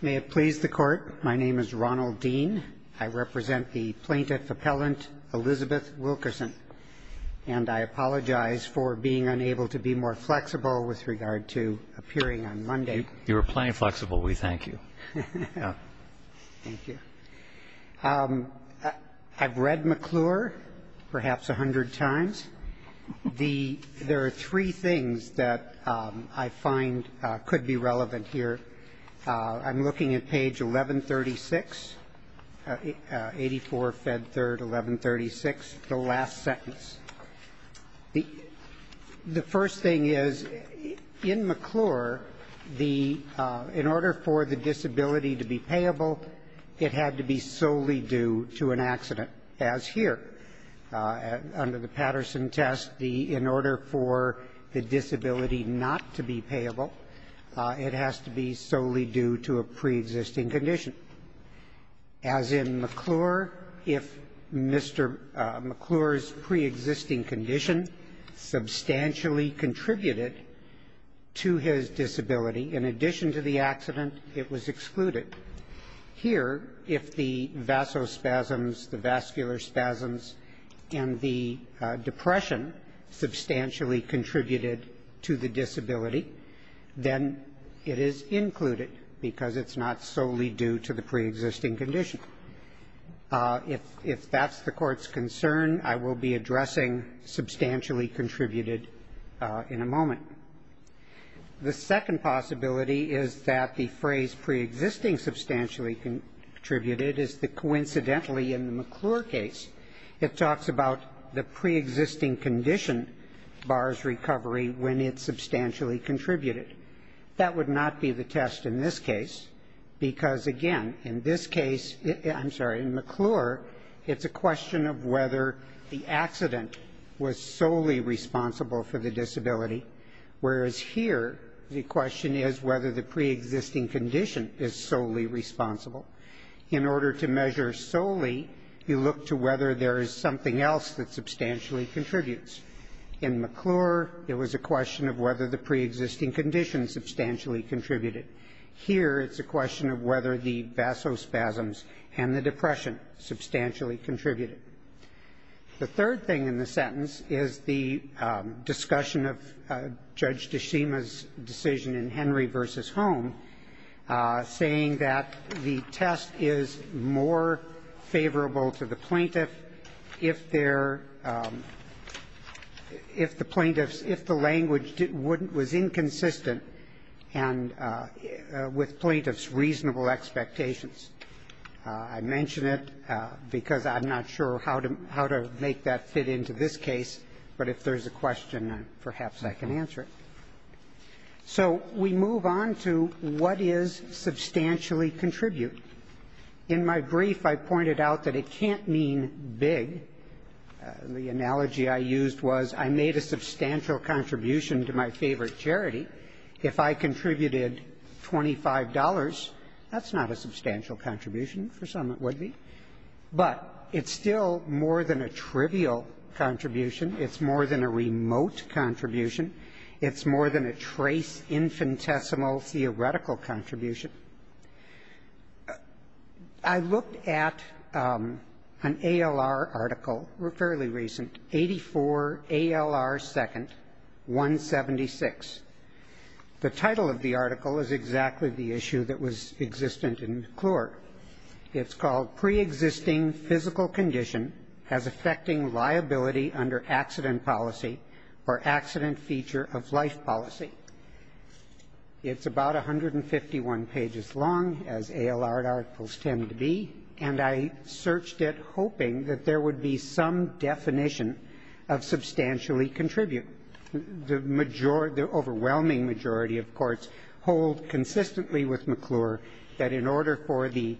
May it please the Court, my name is Ronald Dean. I represent the plaintiff-appellant Elizabeth Wilkerson. And I apologize for being unable to be more flexible with regard to appearing on Monday. You were plain flexible, we thank you. Thank you. I've read McClure perhaps a hundred times. There are three things that I find could be relevant here. I'm looking at page 1136, 84 Fed 3rd, 1136, the last sentence. The first thing is, in McClure, the — in order for the disability to be payable, it had to be solely due to an accident, as here. Under the Patterson test, the — in order for the disability not to be payable, it has to be solely due to a preexisting condition. As in McClure, if Mr. McClure's preexisting condition substantially contributed to his disability, in addition to the accident, it was excluded. Here, if the vasospasms, the vascular spasms, and the depression substantially contributed to the disability, then it is included because it's not solely due to the preexisting condition. If that's the Court's concern, I will be addressing substantially contributed in a moment. The second possibility is that the phrase preexisting substantially contributed is the — coincidentally, in the McClure case, it talks about the preexisting condition bars recovery when it's substantially contributed. That would not be the test in this case, because, again, in this case — I'm sorry, in McClure, it's a question of whether the accident was solely responsible for the disability, whereas here, the question is whether the preexisting condition is solely responsible. In order to measure solely, you look to whether there is something else that substantially contributes. In McClure, it was a question of whether the preexisting condition substantially contributed. Here, it's a question of whether the vasospasms and the depression substantially contributed. The third thing in the sentence is the discussion of Judge DeShima's decision in Henry v. Home, saying that the test is more favorable to the plaintiff if there — if the plaintiff's — if the language was inconsistent and with plaintiff's reasonable expectations. I mention it because I'm not sure how to make that fit into this case, but if there's a question, perhaps I can answer it. So we move on to what is substantially contribute. In my brief, I pointed out that it can't mean big. The analogy I used was I made a substantial contribution to my favorite charity. If I contributed $25, that's not a substantial contribution. For some, it would be. But it's still more than a trivial contribution. It's more than a remote contribution. It's more than a trace, infinitesimal, theoretical contribution. I looked at an ALR article, fairly recent, 84 ALR 2nd, 176. The title of the article is exactly the issue that was existent in McClure. It's called, Pre-existing Physical Condition as Affecting Liability Under Accident Policy or Accident Feature of Life Policy. It's about 151 pages long, as ALR articles tend to be, and I searched it hoping that there would be some definition of substantially contribute. The majority — the overwhelming majority, of course, hold consistently with McClure that in order for the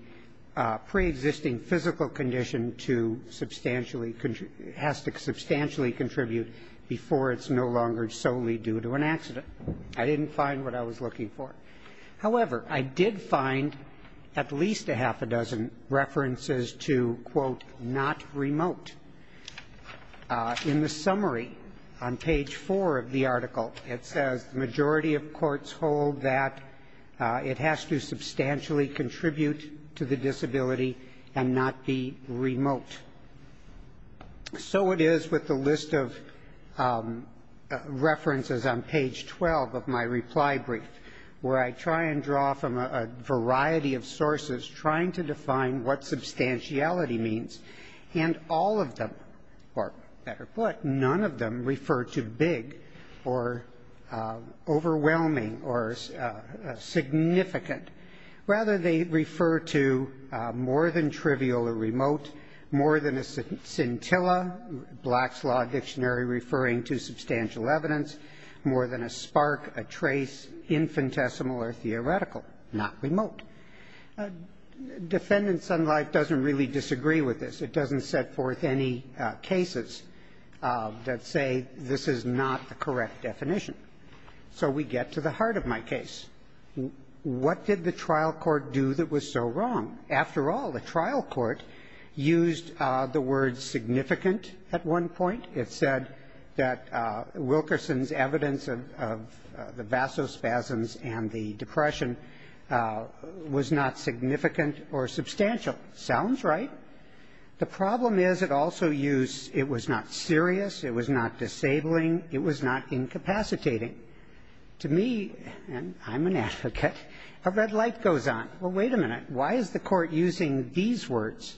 pre-existing physical condition to substantially — has to substantially contribute before it's no longer solely due to an accident. I didn't find what I was looking for. However, I did find at least a half a dozen references to, quote, not remote. In the summary on page 4 of the article, it says the majority of courts hold that it has to substantially contribute to the disability and not be remote. So it is with the list of references on page 12 of my reply brief, where I try and draw from a variety of sources trying to define what substantiality means, and all of them — or, better put, none of them — refer to big or overwhelming or significant — rather, they refer to more than trivial or remote, more than a scintilla, Black's Law Dictionary referring to substantial evidence, more than a spark, a trace, infinitesimal or theoretical, not remote. Defendant Sunlight doesn't really disagree with this. It doesn't set forth any cases that say this is not the correct definition. So we get to the heart of my case. What did the trial court do that was so wrong? After all, the trial court used the word significant at one point. It said that Wilkerson's evidence of the vasospasms and the depression was not significant or substantial. Sounds right. The problem is it also used — it was not serious, it was not disabling, it was not incapacitating. To me — and I'm an advocate — a red light goes on. Well, wait a minute. Why is the court using these words?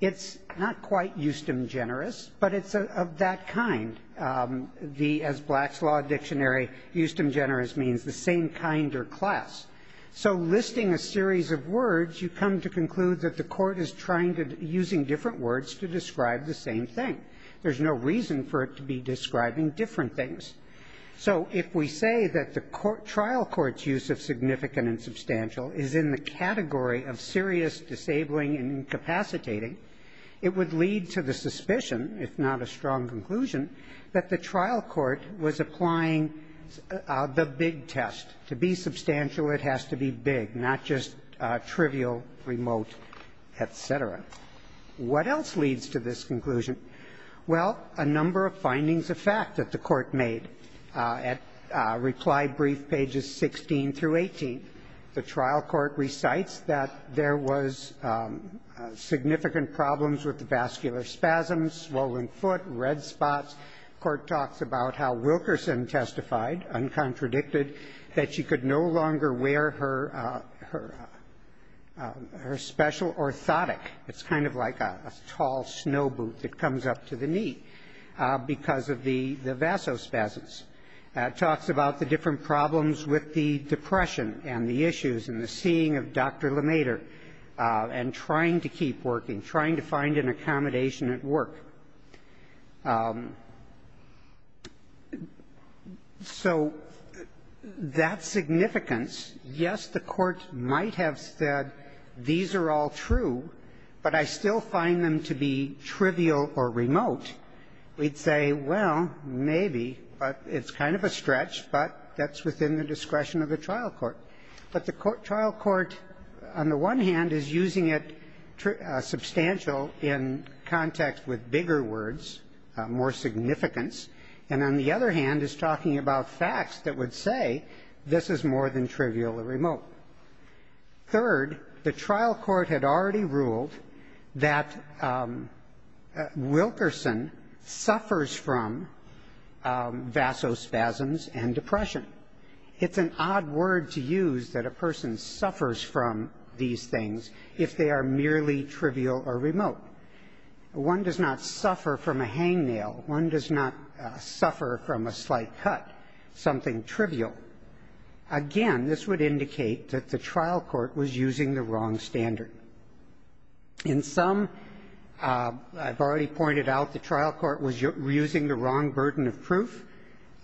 It's not quite eustem generis, but it's of that kind. As Black's Law Dictionary, eustem generis means the same kind or class. So listing a series of words, you come to conclude that the court is trying to — using different words to describe the same thing. There's no reason for it to be describing different things. So if we say that the trial court's use of significant and substantial is in the category of serious, disabling, and incapacitating, it would lead to the suspicion, if not a strong conclusion, that the trial court was applying the big test. To be substantial, it has to be big, not just trivial, remote, et cetera. What else leads to this conclusion? Well, a number of findings of fact that the court made. At reply brief pages 16 through 18, the trial court recites that there was significant problems with the vascular spasms, swollen foot, red spots. Court talks about how Wilkerson testified, uncontradicted, that she could no longer wear her special orthotic. It's kind of like a tall snow boot that comes up to the knee because of the vasospasms. It talks about the different problems with the depression and the issues and the seeing of Dr. LeMaitre and trying to keep working, trying to find an accommodation at work. So that significance, yes, the court might have said, these are all true, but I still find them to be trivial or remote. We'd say, well, maybe, but it's kind of a stretch, but that's within the discretion of the trial court. But the trial court, on the one hand, is using it substantial in context with bigger words, more significance, and on the other hand is talking about facts that would say this is more than trivial or remote. Third, the trial court had already ruled that Wilkerson suffers from vasospasms and depression. It's an odd word to use, that a person suffers from these things if they are merely trivial or remote. One does not suffer from a hangnail. One does not suffer from a slight cut, something trivial. Again, this would indicate that the trial court was using the wrong standard. In some, I've already pointed out, the trial court was using the wrong burden of proof,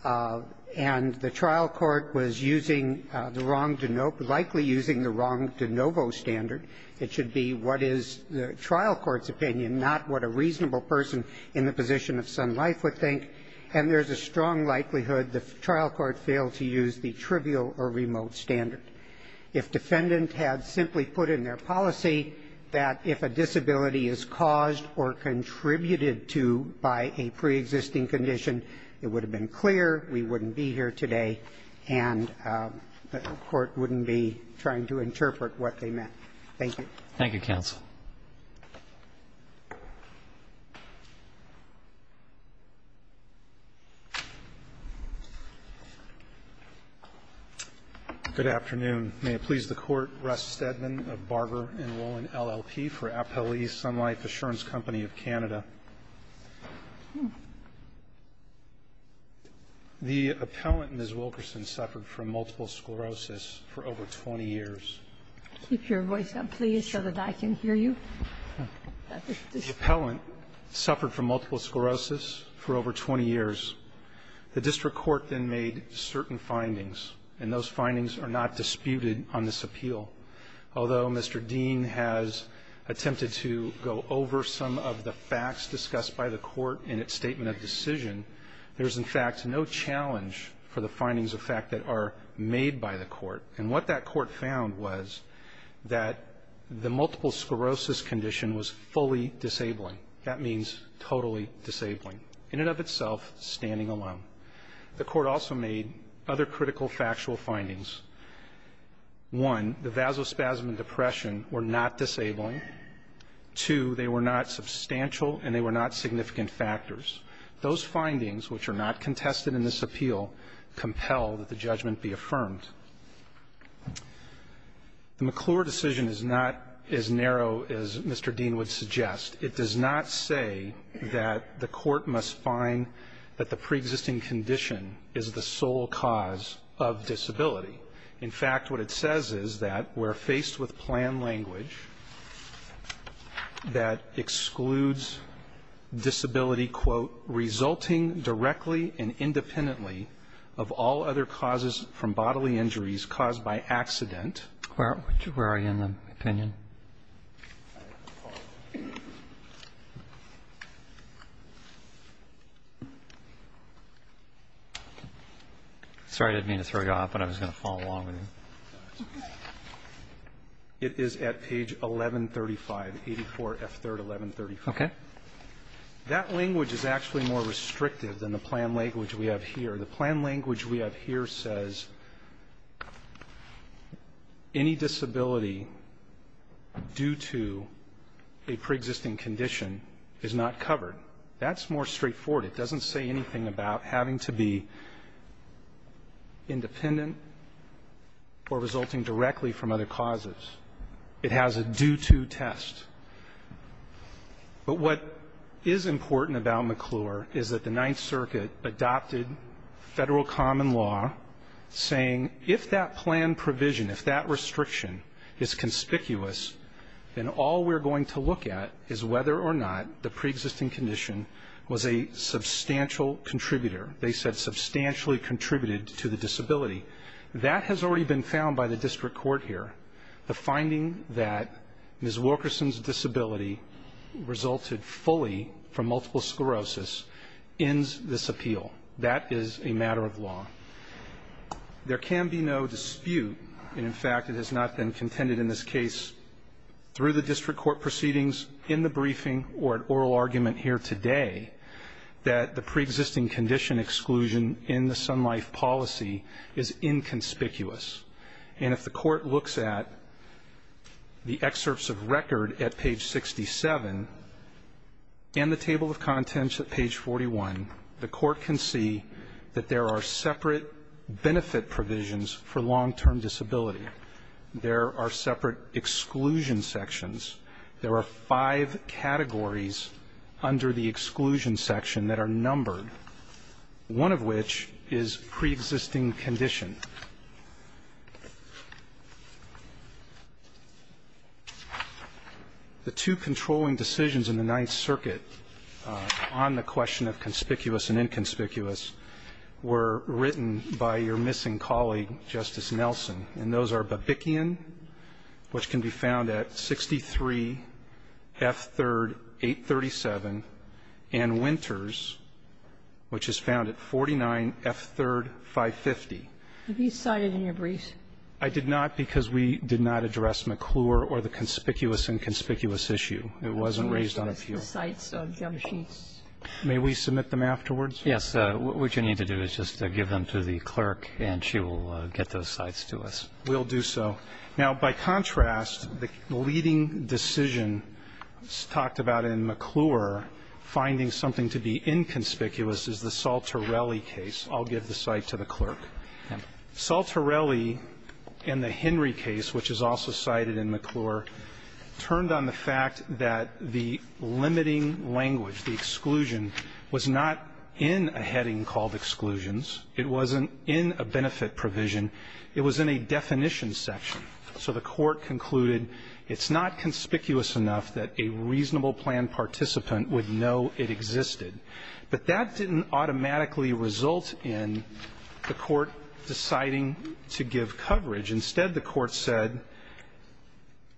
and the trial court was using the wrong, likely using the wrong de novo standard. It should be what is the trial court's opinion, not what a reasonable person in the position of Sun Life would think, and there's a strong likelihood the trial court failed to use the trivial or remote standard. If defendant had simply put in their policy that if a disability is caused or contributed to by a preexisting condition, it would have been clear, we wouldn't be here today, and the court wouldn't be trying to interpret what they meant. Thank you. Roberts. Thank you, counsel. Roberts. Good afternoon. May it please the Court, Russ Stedman of Barber and Rowland, LLP, for Appel East Sun Life Assurance Company of Canada. The appellant, Ms. Wilkerson, suffered from multiple sclerosis for over 20 years. Keep your voice up, please, so that I can hear you. The appellant suffered from multiple sclerosis for over 20 years. The district court then made certain findings, and those findings are not disputed on this appeal. Although Mr. Dean has attempted to go over some of the facts discussed by the court in its statement of decision, there's, in fact, no challenge for the findings of fact that are made by the court. And what that court found was that the multiple sclerosis condition was fully disabling. That means totally disabling. In and of itself, standing alone. The court also made other critical factual findings. One, the vasospasm and depression were not disabling. Two, they were not substantial and they were not significant factors. Those findings, which are not contested in this appeal, compel that the judgment be affirmed. The McClure decision is not as narrow as Mr. Dean would suggest. It does not say that the court must find that the preexisting condition is the sole cause of disability. In fact, what it says is that we're faced with plan language that excludes disability, quote, resulting directly and independently of all other causes from bodily injuries caused by accident. Where are you in the opinion? Sorry, I didn't mean to throw you off, but I was going to follow along with you. It is at page 1135, 84F3rd, 1135. Okay. That language is actually more restrictive than the plan language we have here. The plan language we have here says any disability due to a preexisting condition is not covered. That's more straightforward. It doesn't say anything about having to be independent or resulting directly from other causes. It has a due-to test. But what is important about McClure is that the Ninth Circuit adopted federal common law saying if that plan provision, if that restriction is conspicuous, then all we're going to look at is whether or not the preexisting condition was a substantial contributor. They said substantially contributed to the disability. That has already been found by the district court here. The finding that Ms. Wilkerson's disability resulted fully from multiple sclerosis ends this appeal. That is a matter of law. There can be no dispute, and in fact, it has not been contended in this case through the district court proceedings, in the briefing, or an oral argument here today, that the preexisting condition exclusion in the Sun Life policy is inconspicuous. And if the court looks at the excerpts of record at page 67 and the table of contents at page 41, the court can see that there are separate benefit provisions for long-term disability. There are separate exclusion sections. There are five categories under the exclusion section that are numbered, one of which is preexisting condition. The two controlling decisions in the Ninth Circuit on the question of conspicuous and inconspicuous were written by your missing colleague, Justice Nelson, and those are Babikian, which can be found at 63 F3rd 837, and Winters, which is found at 49 F3rd 550. Kagan. Have you cited in your briefs? I did not because we did not address McClure or the conspicuous and conspicuous It wasn't raised on a field. The sites of Jamsheets. May we submit them afterwards? Yes. What you need to do is just give them to the clerk, and she will get those sites to us. We'll do so. Now, by contrast, the leading decision talked about in McClure, finding something to be inconspicuous, is the Saltarelli case. I'll give the site to the clerk. Saltarelli and the Henry case, which is also cited in McClure, turned on the fact that the limiting language, the exclusion, was not in a heading called exclusions. It wasn't in a benefit provision. It was in a definition section. So the court concluded it's not conspicuous enough that a reasonable plan participant would know it existed. But that didn't automatically result in the court deciding to give coverage. Instead, the court said,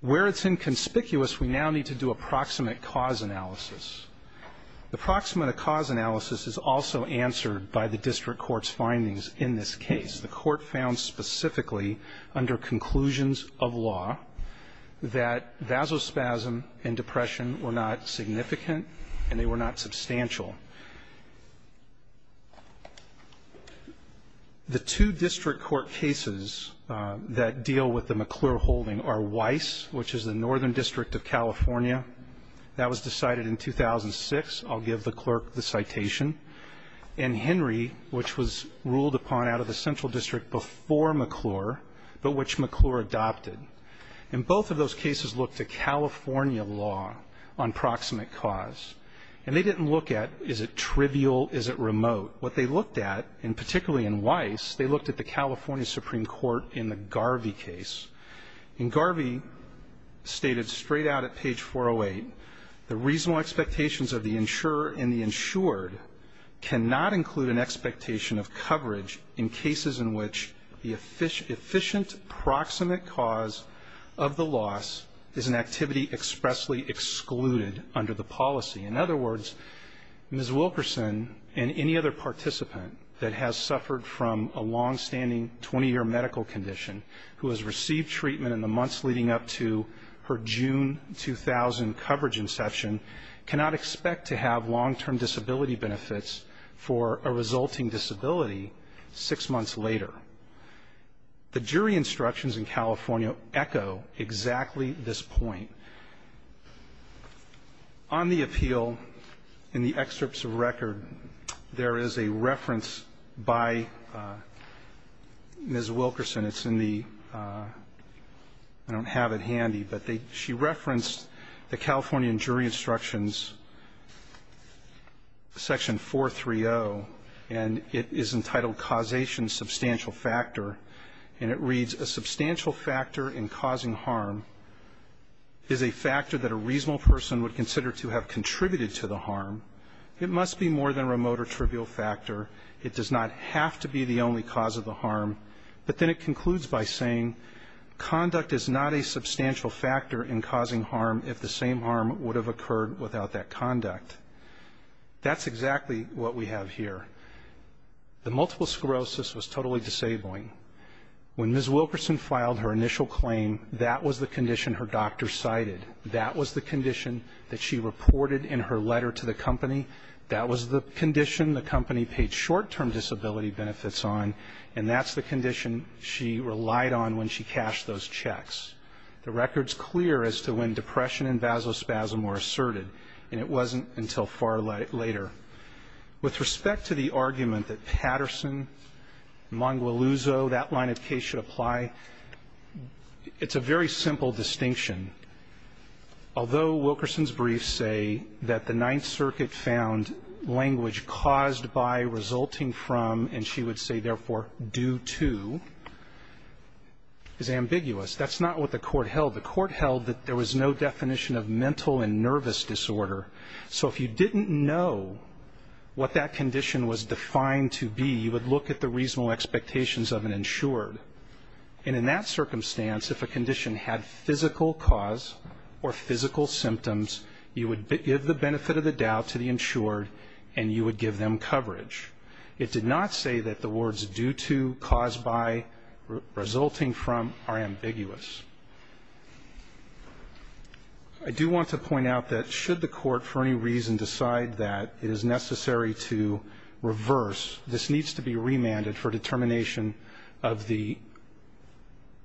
where it's inconspicuous, we now need to do a proximate cause analysis. The proximate cause analysis is also answered by the district court's findings in this case. The court found specifically, under conclusions of law, that vasospasm and depression were not significant, and they were not substantial. The two district court cases that deal with the McClure holding are Weiss, which is the northern district of California. That was decided in 2006. I'll give the clerk the citation. And Henry, which was ruled upon out of the central district before McClure, but which McClure adopted. And both of those cases looked to California law on proximate cause. And they didn't look at, is it trivial, is it remote? What they looked at, and particularly in Weiss, they looked at the California Supreme Court in the Garvey case. In Garvey, stated straight out at page 408, the reasonable expectations of the insurer and the insured cannot include an expectation of coverage in cases in which the efficient proximate cause of the loss is an activity expressly excluded under the policy. In other words, Ms. Wilkerson and any other participant that has suffered from a longstanding 20-year medical condition who has received treatment in the months leading up to her June 2000 coverage inception cannot expect to have long-term disability benefits for a resulting disability six months later. The jury instructions in California echo exactly this point. On the appeal, in the excerpts of record, there is a reference by Ms. Wilkerson. And it's in the, I don't have it handy, but she referenced the Californian jury instructions, section 430. And it is entitled, Causation Substantial Factor. And it reads, a substantial factor in causing harm is a factor that a reasonable person would consider to have contributed to the harm. It must be more than remote or trivial factor. It does not have to be the only cause of the harm. But then it concludes by saying, conduct is not a substantial factor in causing harm if the same harm would have occurred without that conduct. That's exactly what we have here. The multiple sclerosis was totally disabling. When Ms. Wilkerson filed her initial claim, that was the condition her doctor cited. That was the condition that she reported in her letter to the company. That was the condition the company paid short-term disability benefits on. And that's the condition she relied on when she cashed those checks. The record's clear as to when depression and vasospasm were asserted, and it wasn't until far later. With respect to the argument that Patterson, Mongualuzo, that line of case should apply, it's a very simple distinction. Although Wilkerson's briefs say that the Ninth Circuit found language caused by, resulting from, and she would say therefore due to, is ambiguous. That's not what the court held. The court held that there was no definition of mental and nervous disorder. So if you didn't know what that condition was defined to be, you would look at the reasonable expectations of an insured. And in that circumstance, if a condition had physical cause or physical symptoms, you would give the benefit of the doubt to the insured, and you would give them coverage. It did not say that the words due to, caused by, resulting from, are ambiguous. I do want to point out that should the court for any reason decide that it is necessary to reverse, this needs to be remanded for determination of the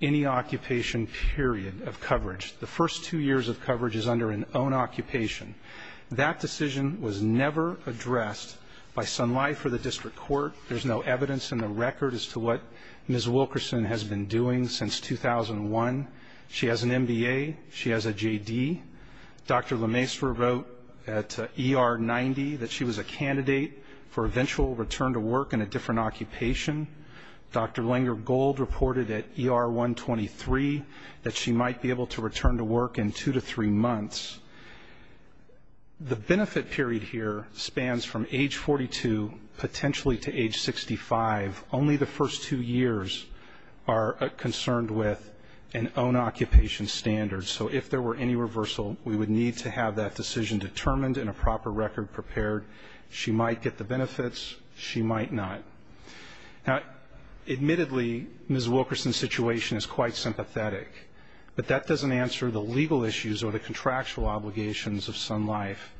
any occupation period of coverage. The first two years of coverage is under an own occupation. That decision was never addressed by Sun Life or the district court. There's no evidence in the record as to what Ms. Wilkerson has been doing since 2001. She has an MBA, she has a JD. Dr. Lemaistre wrote at ER 90 that she was a candidate for eventual return to work in a different occupation. Dr. Langer-Gold reported at ER 123 that she might be able to return to work in two to three months. The benefit period here spans from age 42 potentially to age 65. Only the first two years are concerned with an own occupation standard. So if there were any reversal, we would need to have that decision determined and a proper record prepared. She might get the benefits, she might not. Admittedly, Ms. Wilkerson's situation is quite sympathetic. But that doesn't answer the legal issues or the contractual obligations of Sun Life.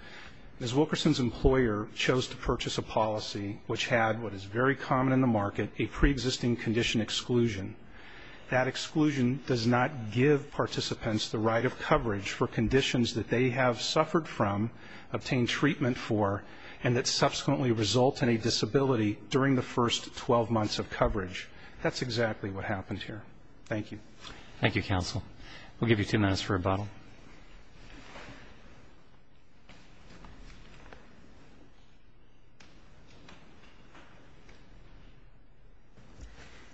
Ms. Wilkerson's employer chose to purchase a policy which had what is very common in the market, a pre-existing condition exclusion. That exclusion does not give participants the right of coverage for conditions that they have suffered from, obtained treatment for, and that subsequently result in a disability during the first 12 months of coverage. That's exactly what happened here. Thank you. Thank you, counsel. We'll give you two minutes for rebuttal.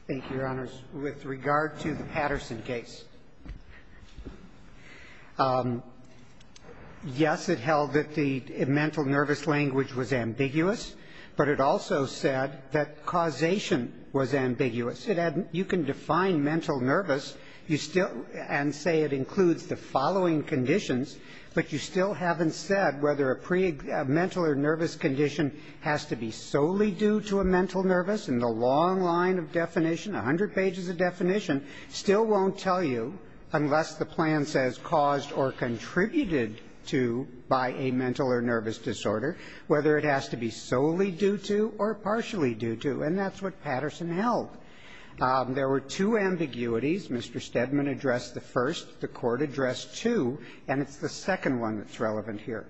Thank you, your honors. With regard to the Patterson case, yes, it held that the mental nervous language was ambiguous. But it also said that causation was ambiguous. You can define mental nervous and say it includes the following conditions, but you still haven't said whether a mental or nervous condition has to be solely due to a mental nervous, and the long line of definition, 100 pages of definition, still won't tell you, unless the plan says caused or contributed to by a mental or nervous disorder, whether it has to be solely due to or partially due to, and that's what Patterson held. There were two ambiguities. Mr. Stedman addressed the first. The Court addressed two, and it's the second one that's relevant here.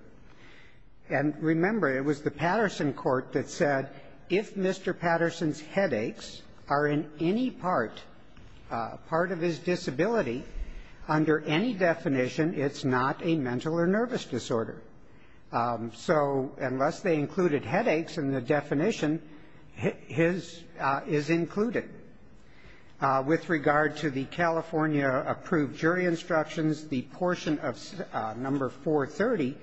And remember, it was the Patterson court that said if Mr. Patterson's headaches are in any part, part of his disability, under any definition, it's not a mental or nervous disorder. So unless they included headaches in the definition, his is included. With regard to the California approved jury instructions, the portion of number 430,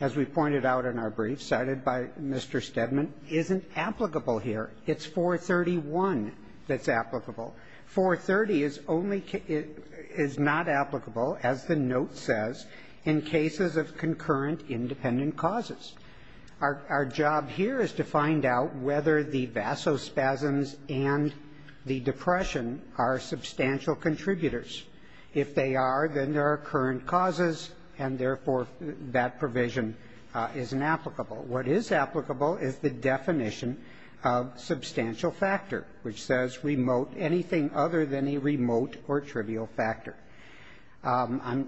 as we pointed out in our brief cited by Mr. Stedman, isn't applicable here. It's 431 that's applicable. 430 is only, is not applicable, as the note says, in cases of concurrent independent causes. Our job here is to find out whether the vasospasms and the depression are substantial contributors. If they are, then there are current causes, and therefore, that provision isn't applicable. What is applicable is the definition of substantial factor, which says remote anything other than a remote or trivial factor. The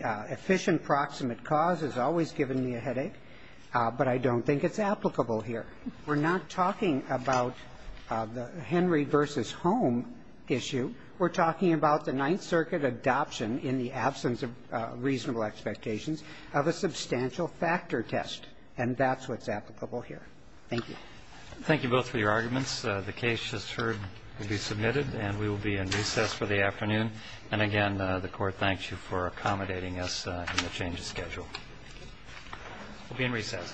efficient proximate cause has always given me a headache, but I don't think it's applicable here. We're not talking about the Henry versus home issue. We're talking about the Ninth Circuit adoption in the absence of reasonable expectations of a substantial factor test, and that's what's applicable here. Thank you. Thank you both for your arguments. The case just heard will be submitted, and we will be in recess for the afternoon. And again, the Court thanks you for accommodating us in the change of schedule. We'll be in recess.